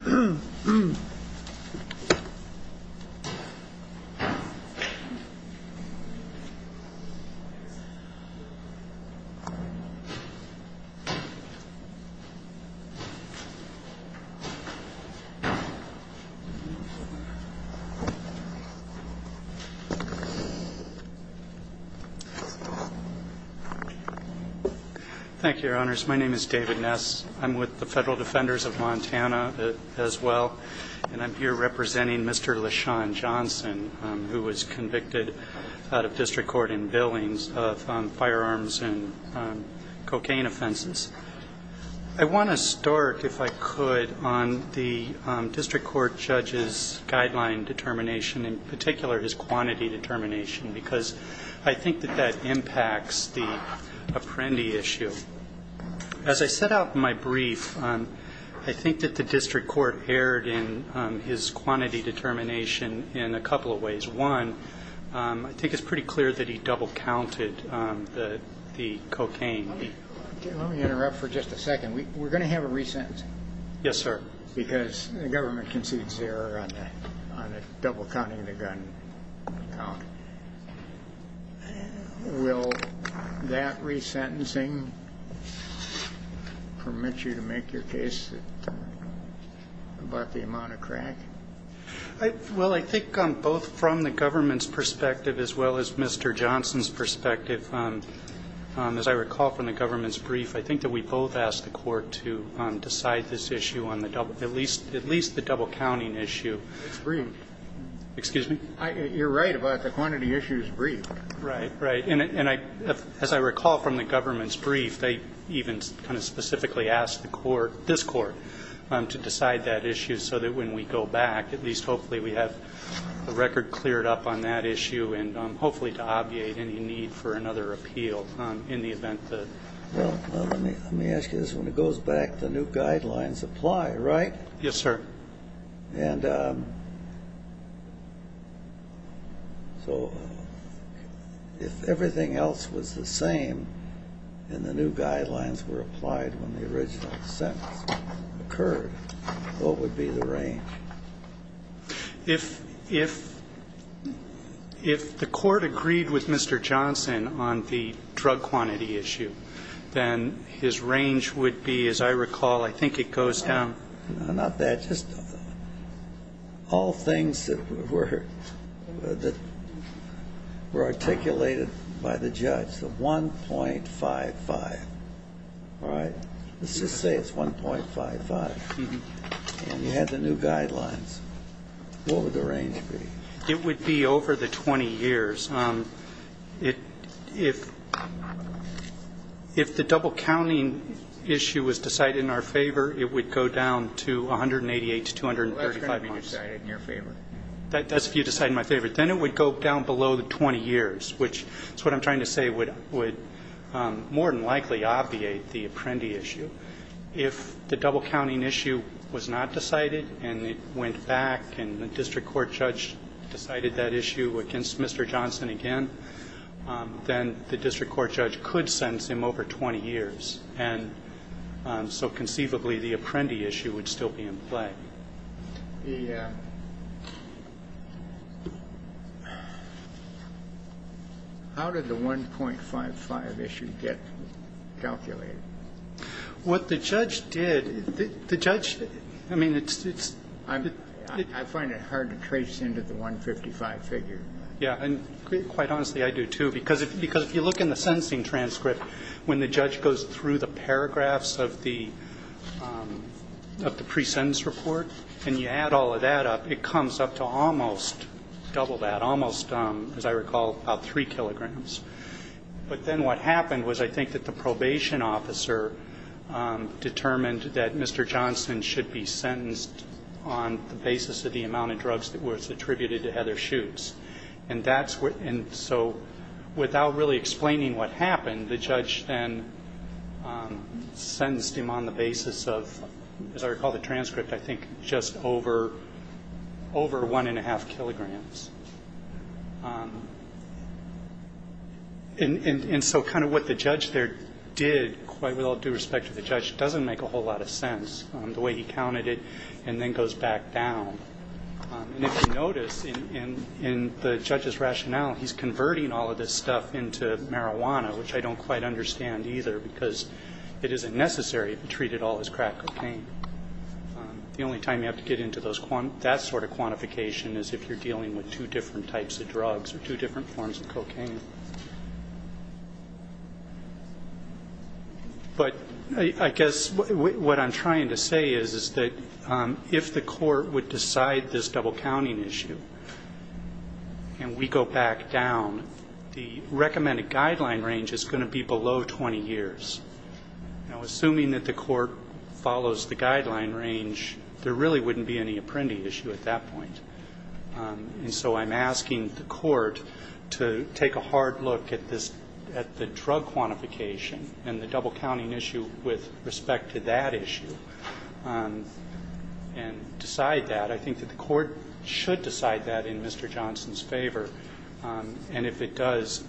Thank you, Your Honors. My name is David Ness. I'm with the Federal Defenders of Montana as well, and I'm here representing Mr. LaShawn Johnson, who was convicted out of district court in Billings of firearms and cocaine offenses. I want to start, if I could, on the district court judge's guideline determination, in particular his quantity determination, because I think that that impacts the Apprendi issue. As I set out in my brief, I think that the district court erred in his quantity determination in a couple of ways. One, I think it's pretty clear that he double-counted the cocaine. Let me interrupt for just a second. We're going to have a resentencing. Yes, sir. Because the government concedes error on the double-counting of the gun count. Will that resentencing permit you to make your case about the amount of crack? Well, I think both from the government's perspective as well as Mr. Johnson's perspective, as I recall from the government's brief, I think that we both asked the court to decide this issue on at least the double-counting issue. It's brief. Excuse me? You're right about the quantity issue is brief. Right, right. And as I recall from the government's brief, they even kind of specifically asked this court to decide that issue so that when we go back, at least hopefully we have the record cleared up on that issue and hopefully to obviate any need for another appeal in the event that Well, let me ask you this. When it goes back, the new guidelines apply, right? Yes, sir. And so if everything else was the same and the new guidelines were applied when the original sentence occurred, what would be the range? If the court agreed with Mr. Johnson on the drug quantity issue, then his range would be, as I recall, I think it goes down No, not that. Just all things that were articulated by the judge. The 1.55. All right. Let's just say it's 1.55. And you had the new guidelines. What would the range be? It would be over the 20 years. If the double-counting issue was decided in our favor, it would go down to 188 to 235 months. That's going to be decided in your favor. That's if you decide in my favor. Then it would go down below the 20 years, which is what I'm trying to say would more than likely obviate the Apprendi issue. If the double-counting issue was not decided and it went back and the district court judge decided that issue against Mr. Johnson again, then the district court judge could sentence him over 20 years. And so conceivably the Apprendi issue would still be in play. How did the 1.55 issue get calculated? What the judge did, the judge, I mean, it's. I find it hard to trace into the 1.55 figure. Yeah. And quite honestly, I do, too, because if you look in the sentencing transcript, when the judge goes through the paragraphs of the pre-sentence report and you add all of that up, it comes up to almost double that, almost, as I recall, about 3 kilograms. But then what happened was I think that the probation officer determined that Mr. Johnson should be sentenced on the basis of the amount of drugs that was attributed to Heather Schutz. And so without really explaining what happened, the judge then sentenced him on the basis of, as I recall the transcript, I think just over 1.5 kilograms. And so kind of what the judge there did, quite with all due respect to the judge, doesn't make a whole lot of sense, the way he counted it and then goes back down. And if you notice in the judge's rationale, he's converting all of this stuff into marijuana, which I don't quite understand either, because it isn't necessary to treat it all as crack cocaine. The only time you have to get into that sort of quantification is if you're dealing with two different types of drugs or two different forms of cocaine. But I guess what I'm trying to say is that if the court would decide this double counting issue and we go back down, the recommended guideline range is going to be below 20 years. Now, assuming that the court follows the guideline range, there really wouldn't be any apprendee issue at that point. And so I'm asking the court to take a hard look at this, at the drug quantification and the double counting issue with respect to that issue and decide that. I think that the court should decide that in Mr. Johnson's favor. And if it does,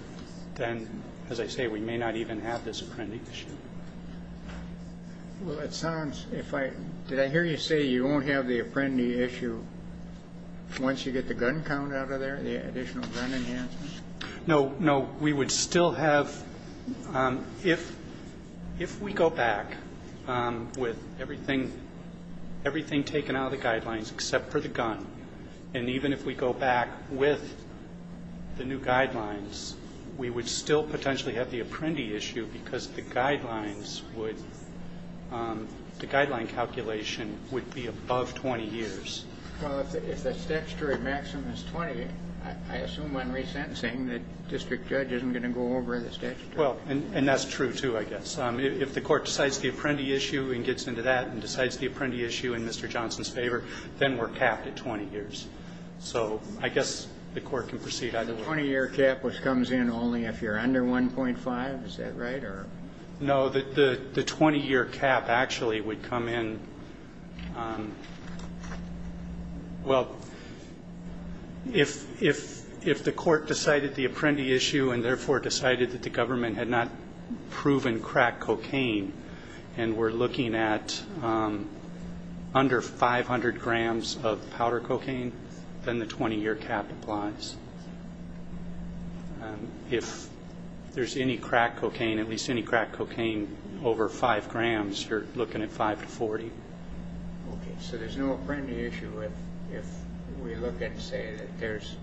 then, as I say, we may not even have this apprendee issue. Well, it sounds, if I, did I hear you say you won't have the apprendee issue once you get the gun count out of there, the additional gun enhancement? No, no. We would still have, if we go back with everything taken out of the guidelines except for the gun, and even if we go back with the new guidelines, we would still potentially have the apprendee issue because the guidelines would, the guideline calculation would be above 20 years. Well, if the statutory maximum is 20, I assume on resentencing that district judge isn't going to go over the statutory. Well, and that's true, too, I guess. If the court decides the apprendee issue and gets into that and decides the apprendee issue in Mr. Johnson's favor, then we're capped at 20 years. So I guess the court can proceed either way. The 20-year cap which comes in only if you're under 1.5, is that right? No, the 20-year cap actually would come in, well, if the court decided the apprendee issue and therefore decided that the government had not proven crack cocaine and we're looking at under 500 grams of powder cocaine, then the 20-year cap applies. If there's any crack cocaine, at least any crack cocaine over 5 grams, you're looking at 5 to 40. Okay, so there's no apprendee issue if we look and say that there's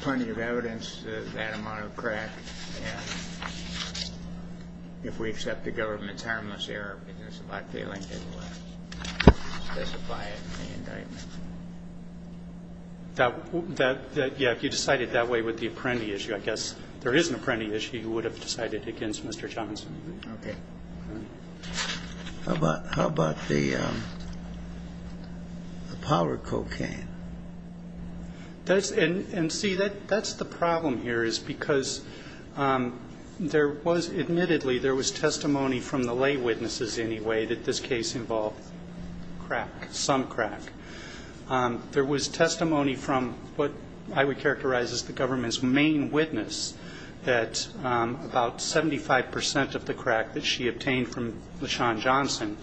plenty of evidence that there's that amount of crack. And if we accept the government's harmless error, because there's a lot failing to specify it in the indictment. That, yeah, if you decided that way with the apprendee issue, I guess there is an apprendee issue you would have decided against Mr. Johnson. Okay. How about the powder cocaine? And see, that's the problem here is because there was, admittedly, there was testimony from the lay witnesses anyway that this case involved crack, some crack. There was testimony from what I would characterize as the government's main witness that about 75% of the crack that she obtained from LaShawn Johnson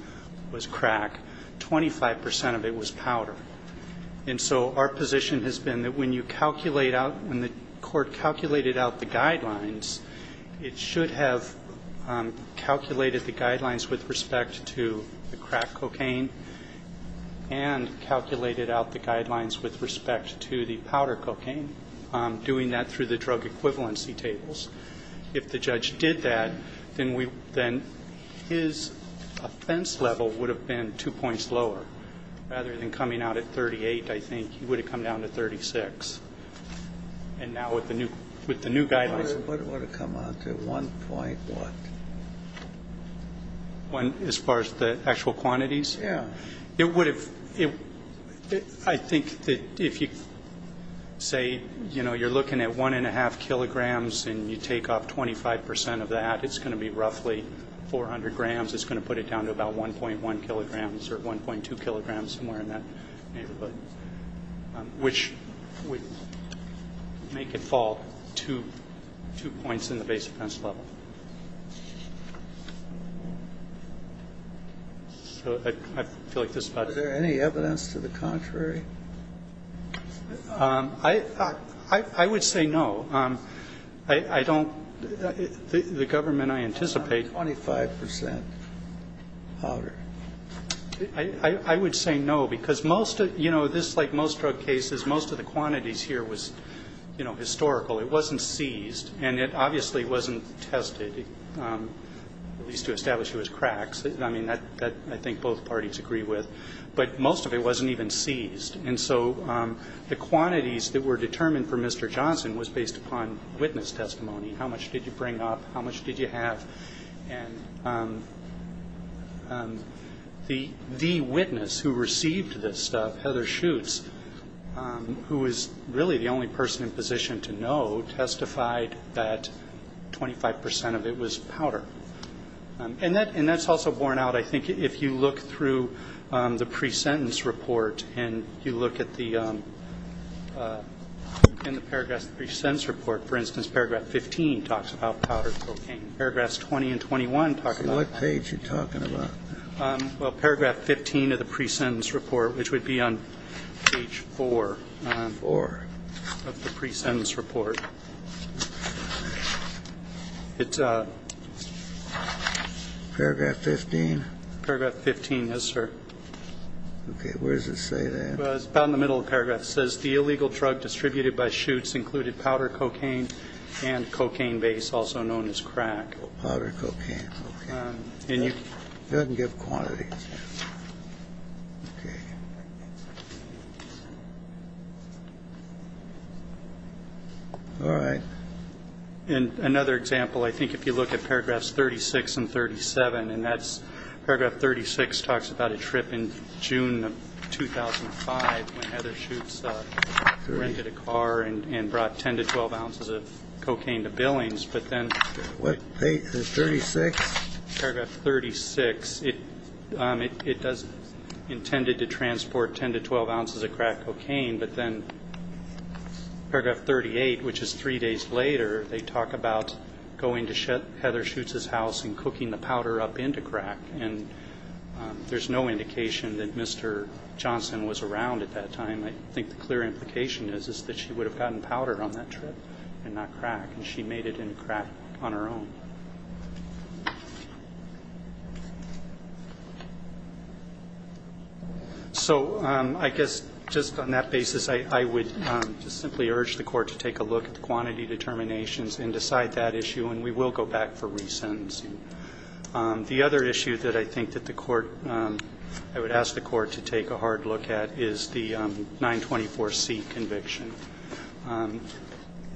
was crack, 25% of it was powder. And so our position has been that when you calculate out, when the court calculated out the guidelines, it should have calculated the guidelines with respect to the crack cocaine and calculated out the guidelines with respect to the powder cocaine, doing that through the drug equivalency tables. If the judge did that, then his offense level would have been two points lower rather than coming out at 38, I think. He would have come down to 36. And now with the new guidelines. It would have come out to 1.1. As far as the actual quantities? Yeah. It would have. I think that if you say, you know, you're looking at 1.5 kilograms and you take off 25% of that, it's going to be roughly 400 grams. It's going to put it down to about 1.1 kilograms or 1.2 kilograms, somewhere in that neighborhood, which would make it fall two points in the base offense level. So I feel like this is about it. Are there any evidence to the contrary? I would say no. I don't the government I anticipate. 25% powder. I would say no, because most of, you know, this, like most drug cases, most of the quantities here was, you know, historical. It wasn't seized. And it obviously wasn't tested, at least to establish it was cracks. I mean, that I think both parties agree with. But most of it wasn't even seized. And so the quantities that were determined for Mr. Johnson was based upon witness testimony. How much did you bring up? How much did you have? And the witness who received this stuff, Heather Schutz, who was really the only person in position to know, testified that 25% of it was powder. And that's also borne out, I think, if you look through the pre-sentence report and you look at the paragraph of the pre-sentence report. For instance, paragraph 15 talks about powder cocaine. Paragraphs 20 and 21 talk about that. What page are you talking about? Well, paragraph 15 of the pre-sentence report, which would be on page 4. 4. Of the pre-sentence report. It's a 15. Paragraph 15, yes, sir. Okay. Where does it say that? It's about in the middle of the paragraph. It says the illegal drug distributed by Schutz included powder cocaine and cocaine base, also known as crack. Oh, powder cocaine. Okay. It doesn't give quantities. Okay. All right. In another example, I think if you look at paragraphs 36 and 37, and that's paragraph 36 talks about a trip in June of 2005 when Heather Schutz rented a car and brought 10 to 12 ounces of cocaine to Billings. But then paragraph 36, it does intended to transport 10 to 12 ounces of crack cocaine. But then paragraph 38, which is three days later, they talk about going to Heather Schutz's house and cooking the powder up into crack. And there's no indication that Mr. Johnson was around at that time. I think the clear implication is that she would have gotten powder on that trip and not crack. And she made it into crack on her own. So I guess just on that basis, I would just simply urge the court to take a look at the quantity determinations and decide that issue. And we will go back for re-sentencing. The other issue that I think that the court, I would ask the court to take a hard look at, is the 924C conviction.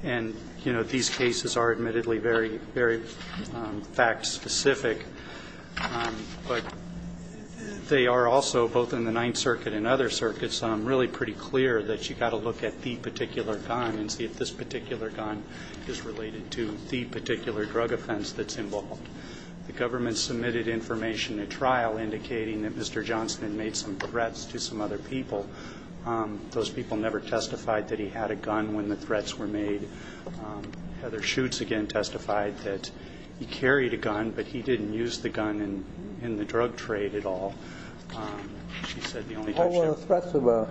And, you know, these cases are admittedly very fact-specific. But they are also, both in the Ninth Circuit and other circuits, really pretty clear that you've got to look at the particular gun and see if this particular gun is The government submitted information at trial indicating that Mr. Johnson had made some threats to some other people. Those people never testified that he had a gun when the threats were made. Heather Schutz, again, testified that he carried a gun, but he didn't use the gun in the drug trade at all. She said the only time she had a gun. What were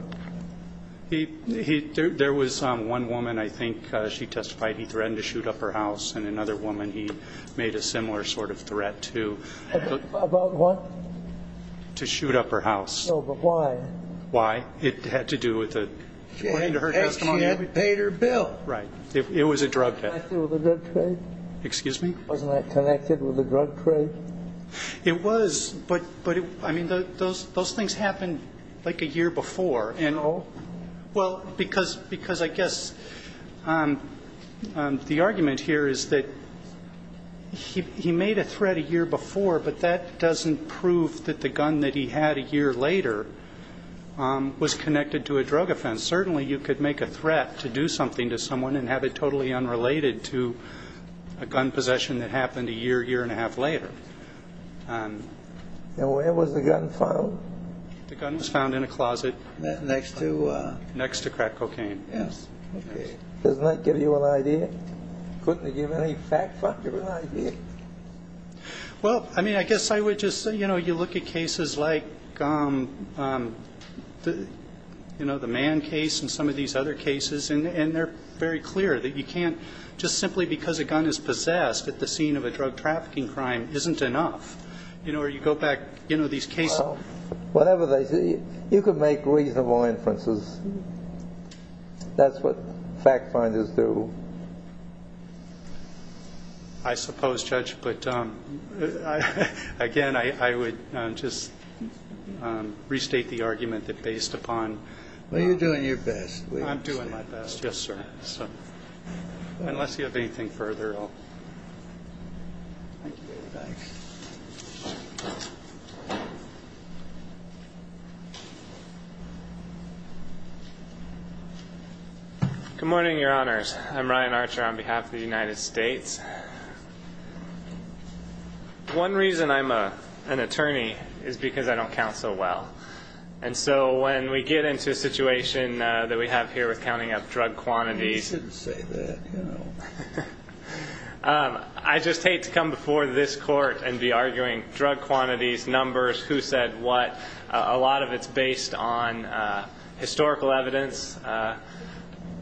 the threats about? There was one woman, I think she testified he threatened to shoot up her house. And another woman he made a similar sort of threat to. About what? To shoot up her house. No, but why? Why? It had to do with the point of her testimony. She had paid her bill. Right. It was a drug bill. Wasn't that connected with the drug trade? Excuse me? Wasn't that connected with the drug trade? It was, but, I mean, those things happened like a year before. No. Well, because I guess the argument here is that he made a threat a year before, but that doesn't prove that the gun that he had a year later was connected to a drug offense. Certainly you could make a threat to do something to someone and have it totally unrelated to a gun possession that happened a year, year and a half later. And where was the gun found? The gun was found in a closet. Next to? Next to crack cocaine. Okay. Doesn't that give you an idea? Couldn't it give any factual idea? Well, I mean, I guess I would just say, you know, you look at cases like, you know, the Mann case and some of these other cases, and they're very clear that you can't just simply because a gun is possessed at the scene of a drug trafficking crime isn't enough. You know, or you go back, you know, these cases. Well, whatever they say, you could make reasonable inferences. That's what fact finders do. I suppose, Judge, but, again, I would just restate the argument that based upon Well, you're doing your best. I'm doing my best, yes, sir. Unless you have anything further, I'll Thank you very much. Good morning, Your Honors. I'm Ryan Archer on behalf of the United States. One reason I'm an attorney is because I don't count so well. And so when we get into a situation that we have here with counting up drug quantities You shouldn't say that, you know. I just hate to come before this court and be arguing drug quantities, numbers, who said what. A lot of it's based on historical evidence.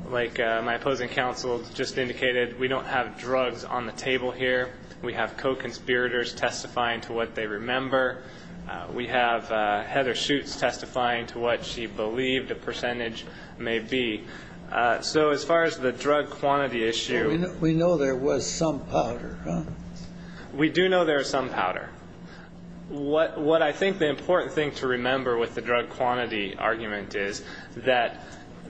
Like my opposing counsel just indicated, we don't have drugs on the table here. We have co-conspirators testifying to what they remember. We have Heather Schutz testifying to what she believed a percentage may be. So as far as the drug quantity issue We know there was some powder. We do know there was some powder. What I think the important thing to remember with the drug quantity argument is that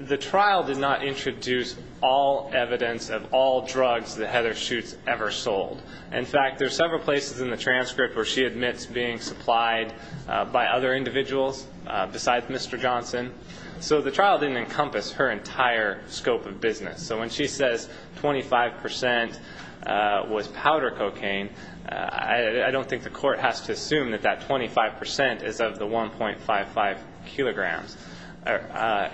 the trial did not introduce all evidence of all drugs that Heather Schutz ever sold. In fact, there are several places in the transcript where she admits being supplied by other individuals besides Mr. Johnson. So the trial didn't encompass her entire scope of business. So when she says 25% was powder cocaine, I don't think the court has to assume that that 25% is of the 1.55 kilograms.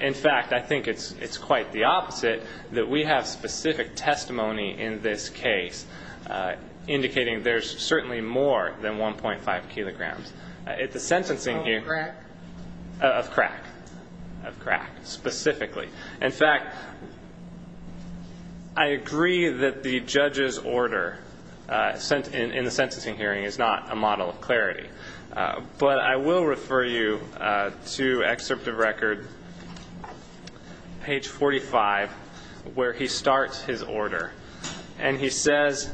In fact, I think it's quite the opposite, that we have specific testimony in this case indicating there's certainly more than 1.5 kilograms. Of crack? Of crack. Specifically. In fact, I agree that the judge's order in the sentencing hearing is not a model of clarity. But I will refer you to excerpt of record, page 45, where he starts his order. And he says,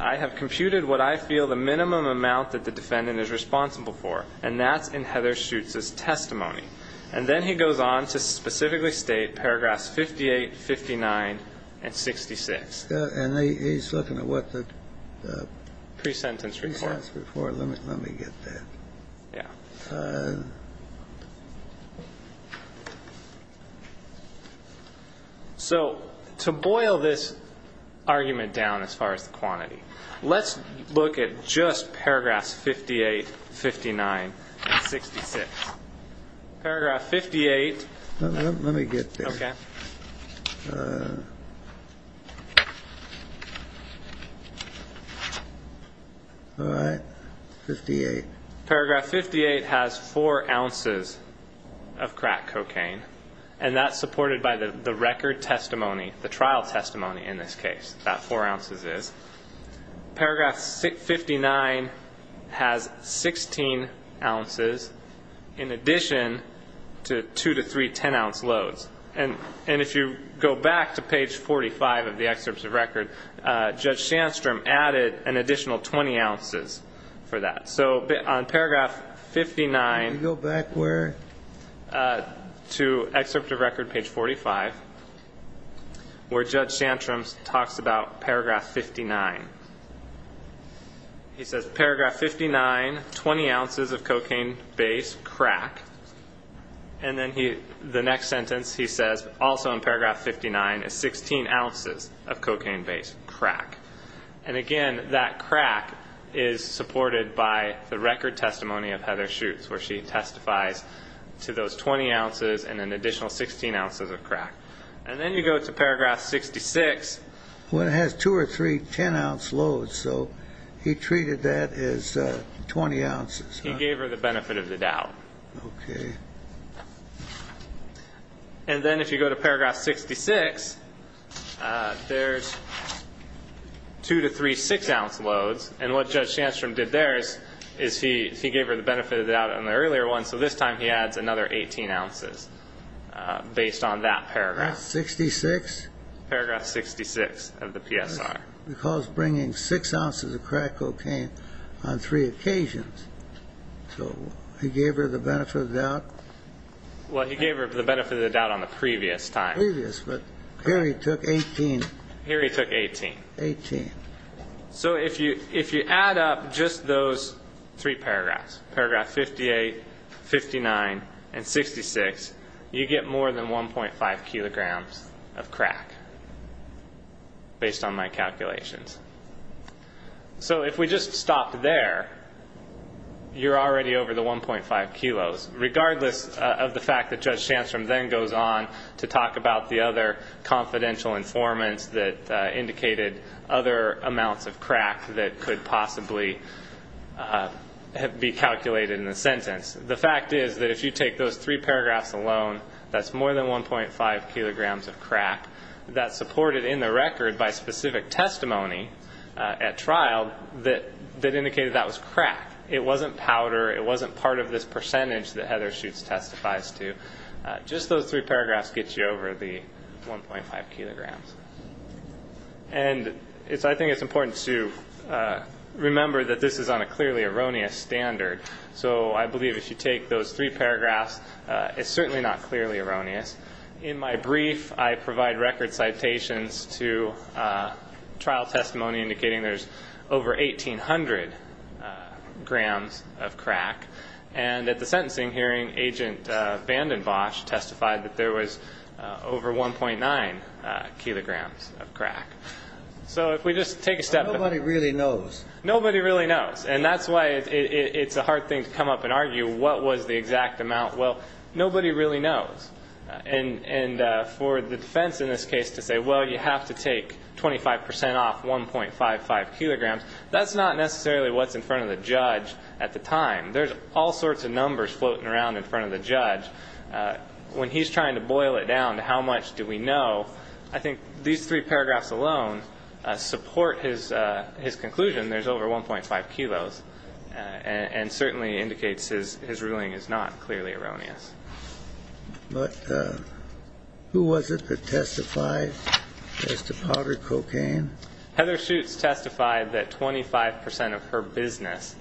I have computed what I feel the minimum amount that the defendant is responsible for, and that's in Heather Schutz's testimony. And then he goes on to specifically state paragraphs 58, 59, and 66. And he's looking at what the pre-sentence report. Pre-sentence report. Let me get that. Yeah. All right. So to boil this argument down as far as quantity, let's look at just paragraphs 58, 59, and 66. Paragraph 58. Let me get there. Okay. All right. 58. Paragraph 58 has 4 ounces of crack cocaine, and that's supported by the record testimony, the trial testimony in this case. That 4 ounces is. Paragraph 59 has 16 ounces in addition to 2 to 3 10-ounce loads. And if you go back to page 45 of the excerpts of record, Judge Sandstrom added an additional 20 ounces for that. So on paragraph 59. Go back where? To excerpt of record page 45 where Judge Sandstrom talks about paragraph 59. He says paragraph 59, 20 ounces of cocaine-based crack, and then the next sentence he says also in paragraph 59 is 16 ounces of cocaine-based crack. And, again, that crack is supported by the record testimony of Heather Schutz, where she testifies to those 20 ounces and an additional 16 ounces of crack. And then you go to paragraph 66. Well, it has 2 or 3 10-ounce loads, so he treated that as 20 ounces. He gave her the benefit of the doubt. Okay. And then if you go to paragraph 66, there's 2 to 3 6-ounce loads, and what Judge Sandstrom did there is he gave her the benefit of the doubt on the earlier one, so this time he adds another 18 ounces based on that paragraph. Paragraph 66? Paragraph 66 of the PSR. Because bringing 6 ounces of crack cocaine on three occasions. So he gave her the benefit of the doubt. Well, he gave her the benefit of the doubt on the previous time. Previous, but here he took 18. Here he took 18. 18. So if you add up just those three paragraphs, paragraph 58, 59, and 66, you get more than 1.5 kilograms of crack based on my calculations. So if we just stopped there, you're already over the 1.5 kilos, regardless of the fact that Judge Sandstrom then goes on to talk about the other confidential informants that indicated other amounts of crack that could possibly be calculated in the sentence. The fact is that if you take those three paragraphs alone, that's more than 1.5 kilograms of crack. That's supported in the record by specific testimony at trial that indicated that was crack. It wasn't powder. It wasn't part of this percentage that Heather Schutz testifies to. Just those three paragraphs gets you over the 1.5 kilograms. And I think it's important to remember that this is on a clearly erroneous standard. So I believe if you take those three paragraphs, it's certainly not clearly erroneous. In my brief, I provide record citations to trial testimony indicating there's over 1,800 grams of crack. And at the sentencing hearing, Agent VandenBosch testified that there was over 1.9 kilograms of crack. So if we just take a step back. Nobody really knows. Nobody really knows. And that's why it's a hard thing to come up and argue what was the exact amount. Well, nobody really knows. And for the defense in this case to say, well, you have to take 25 percent off 1.55 kilograms, that's not necessarily what's in front of the judge at the time. There's all sorts of numbers floating around in front of the judge. When he's trying to boil it down to how much do we know, I think these three paragraphs alone support his conclusion there's over 1.5 kilos and certainly indicates his ruling is not clearly erroneous. But who was it that testified as to powder cocaine? Heather Schutz testified that 25 percent of her business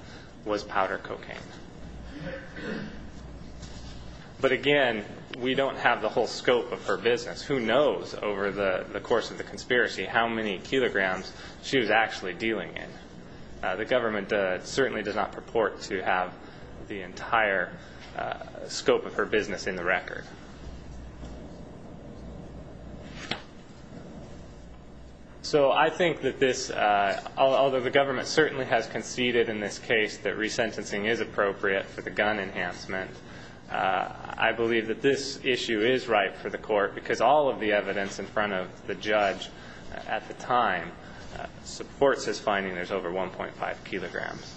was powder cocaine. But, again, we don't have the whole scope of her business. Who knows over the course of the conspiracy how many kilograms she was actually dealing in. The government certainly does not purport to have the entire scope of her business in the record. So I think that this, although the government certainly has conceded in this case that resentencing is appropriate for the gun enhancement, I believe that this issue is ripe for the court because all of the evidence in front of the judge at the time supports his finding there's over 1.5 kilograms.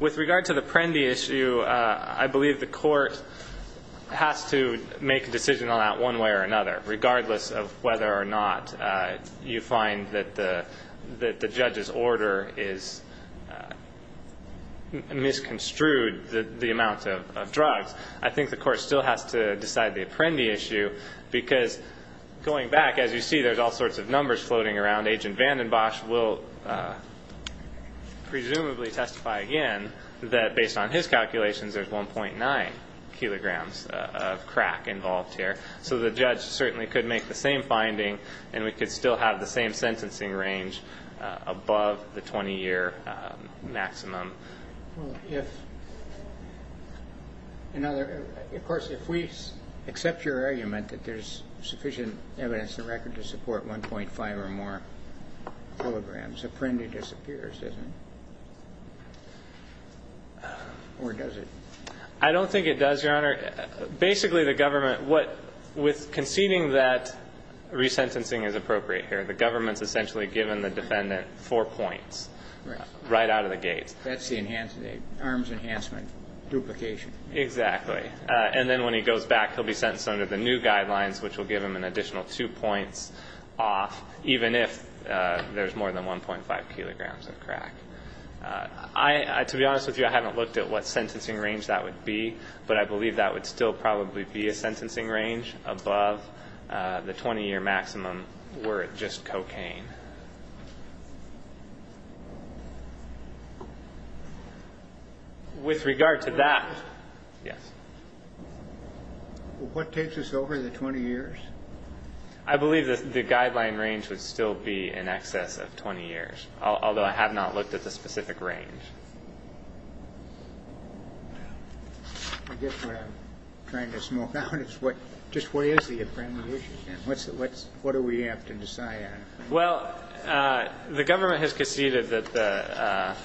With regard to the Prendi issue, I believe the court has to make a decision on that one way or another. Regardless of whether or not you find that the judge's order has misconstrued the amount of drugs, I think the court still has to decide the Prendi issue because, going back, as you see there's all sorts of numbers floating around. Agent Vandenbosch will presumably testify again that, based on his calculations, there's 1.9 kilograms of crack involved here. So the judge certainly could make the same finding and we could still have the same sentencing range above the 20-year maximum. Of course, if we accept your argument that there's sufficient evidence in the record to support 1.5 or more kilograms, the Prendi disappears, doesn't it? Or does it? I don't think it does, Your Honor. Basically, the government, with conceding that resentencing is appropriate here, the government's essentially given the defendant four points right out of the gate. That's the arms enhancement duplication. Exactly. And then when he goes back, he'll be sentenced under the new guidelines, which will give him an additional two points off, even if there's more than 1.5 kilograms of crack. To be honest with you, I haven't looked at what sentencing range that would be, but I believe that would still probably be a sentencing range above the 20-year maximum were it just cocaine. With regard to that, yes. What takes us over the 20 years? I believe the guideline range would still be in excess of 20 years, although I have not looked at the specific range. I guess what I'm trying to smoke out is just what is the appropriate issue? What do we have to decide on? Well, the government has conceded that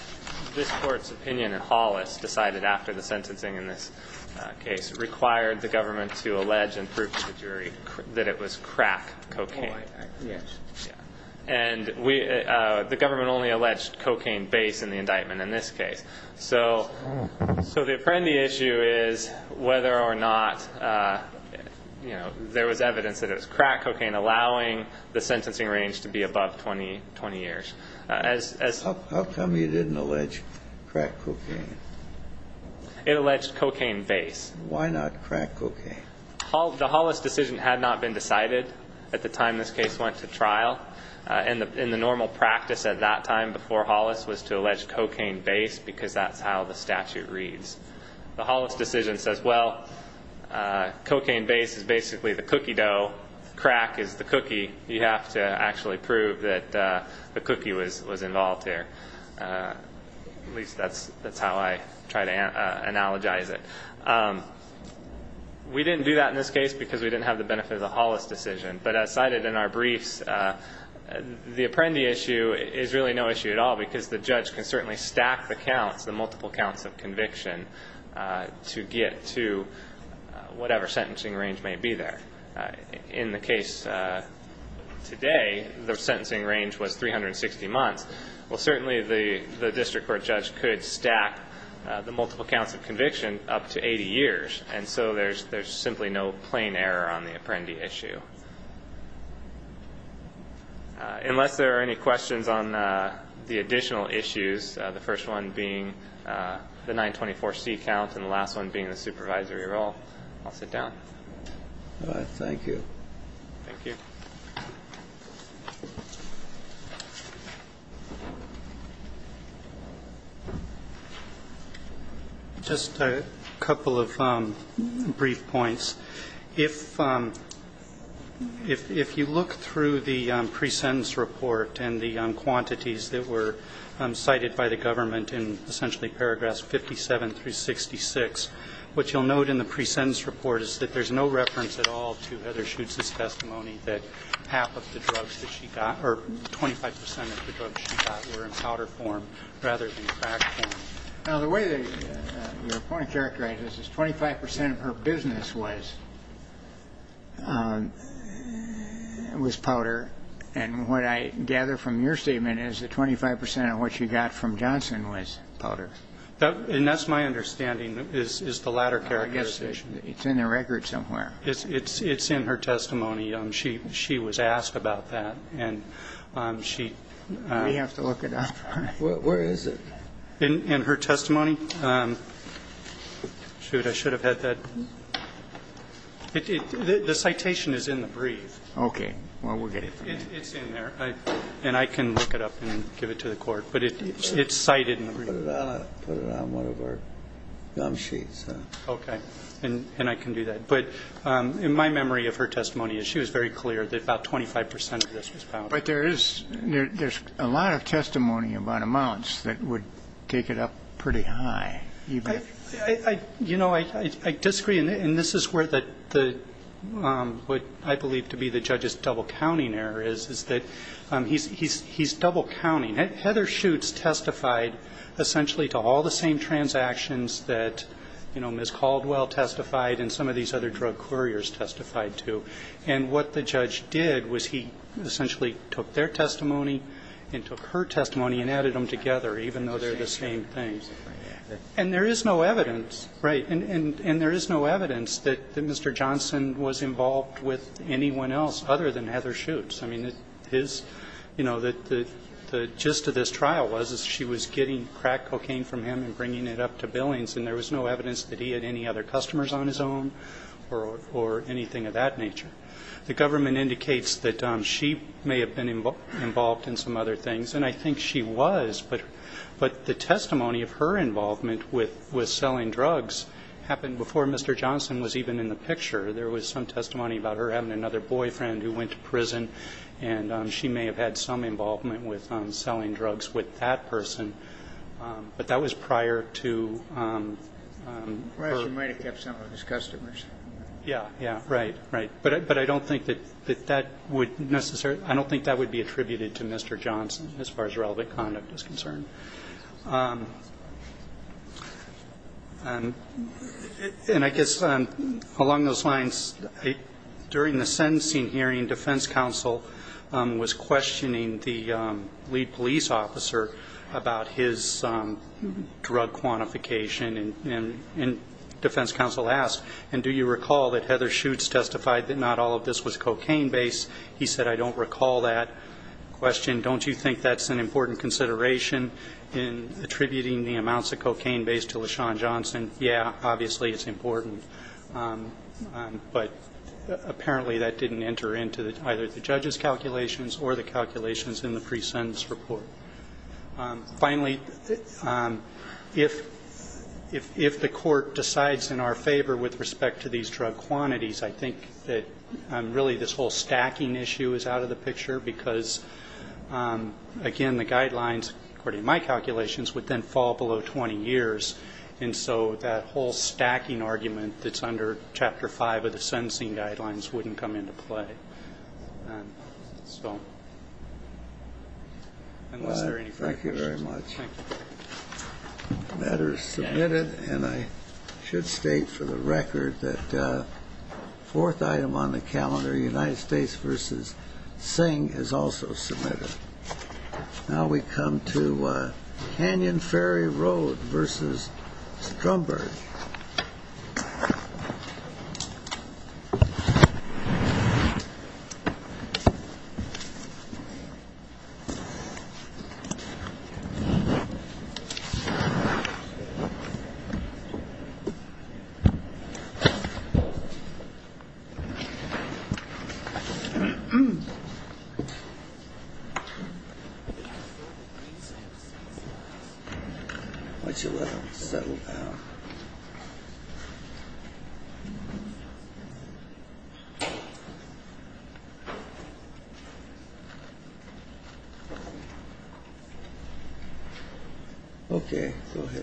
this Court's opinion in Hollis decided after the sentencing in this case required the government to allege and prove to the jury that it was crack cocaine. Yes. And the government only alleged cocaine base in the indictment in this case. So the Apprendi issue is whether or not there was evidence that it was crack cocaine, allowing the sentencing range to be above 20 years. How come you didn't allege crack cocaine? It alleged cocaine base. Why not crack cocaine? The Hollis decision had not been decided at the time this case went to trial. In the normal practice at that time before Hollis was to allege cocaine base because that's how the statute reads. The Hollis decision says, well, cocaine base is basically the cookie dough, crack is the cookie. You have to actually prove that the cookie was involved there. At least that's how I try to analogize it. We didn't do that in this case because we didn't have the benefit of the Hollis decision. But as cited in our briefs, the Apprendi issue is really no issue at all because the judge can certainly stack the counts, the multiple counts of conviction, to get to whatever sentencing range may be there. In the case today, the sentencing range was 360 months. Well, certainly the district court judge could stack the multiple counts of conviction up to 80 years, and so there's simply no plain error on the Apprendi issue. Unless there are any questions on the additional issues, the first one being the 924C count and the last one being the supervisory role, I'll sit down. Thank you. Thank you. Just a couple of brief points. If you look through the presentence report and the quantities that were cited by the government in essentially paragraphs 57 through 66, what you'll note in the presentence report is that there's no reference at all to Heather Schuetz's testimony that half of the drugs that she got or 25 percent of the drugs she got were in powder form rather than crack form. Now, the way that your point characterizes it is 25 percent of her business was powder, and what I gather from your statement is that 25 percent of what she got from Johnson was powder. And that's my understanding is the latter characterization. I guess it's in the record somewhere. It's in her testimony. She was asked about that, and she ---- We have to look it up. Where is it? In her testimony. Shoot, I should have had that. The citation is in the brief. Okay. Well, we'll get it for you. It's in there, and I can look it up and give it to the court, but it's cited in the brief. Put it on one of our gum sheets. Okay. And I can do that. But in my memory of her testimony, she was very clear that about 25 percent of this was powder. But there's a lot of testimony about amounts that would take it up pretty high. You know, I disagree, and this is where the ---- what I believe to be the judge's double-counting error is, is that he's double-counting. Heather Shoots testified essentially to all the same transactions that, you know, Ms. Caldwell testified and some of these other drug couriers testified to. And what the judge did was he essentially took their testimony and took her testimony and added them together, even though they're the same thing. And there is no evidence, right, and there is no evidence that Mr. Johnson was involved with anyone else other than Heather Shoots. I mean, his, you know, the gist of this trial was she was getting crack cocaine from him and bringing it up to billings, and there was no evidence that he had any other customers on his own or anything of that nature. The government indicates that she may have been involved in some other things, and I think she was. But the testimony of her involvement with selling drugs happened before Mr. Johnson was even in the picture. There was some testimony about her having another boyfriend who went to prison, and she may have had some involvement with selling drugs with that person. But that was prior to her. Well, she might have kept some of his customers. Yeah, yeah, right, right. But I don't think that that would necessarily I don't think that would be attributed to Mr. Johnson as far as relevant conduct is concerned. And I guess along those lines, during the sentencing hearing, defense counsel was questioning the lead police officer about his drug quantification, and defense counsel asked, and do you recall that Heather Shoots testified that not all of this was cocaine-based? He said, I don't recall that question. Don't you think that's an important consideration? In attributing the amounts of cocaine-based to LaShawn Johnson, yeah, obviously it's important. But apparently that didn't enter into either the judge's calculations or the calculations in the pre-sentence report. Finally, if the court decides in our favor with respect to these drug quantities, I think that really this whole stacking issue is out of the picture, because, again, the guidelines, according to my calculations, would then fall below 20 years. And so that whole stacking argument that's under Chapter 5 of the sentencing guidelines wouldn't come into play. So unless there are any further questions. Thank you very much. Thank you. The matter is submitted, and I should state for the record that the fourth item on the calendar, United States v. Singh, is also submitted. Now we come to Canyon Ferry Road v. Stromberg. Thank you.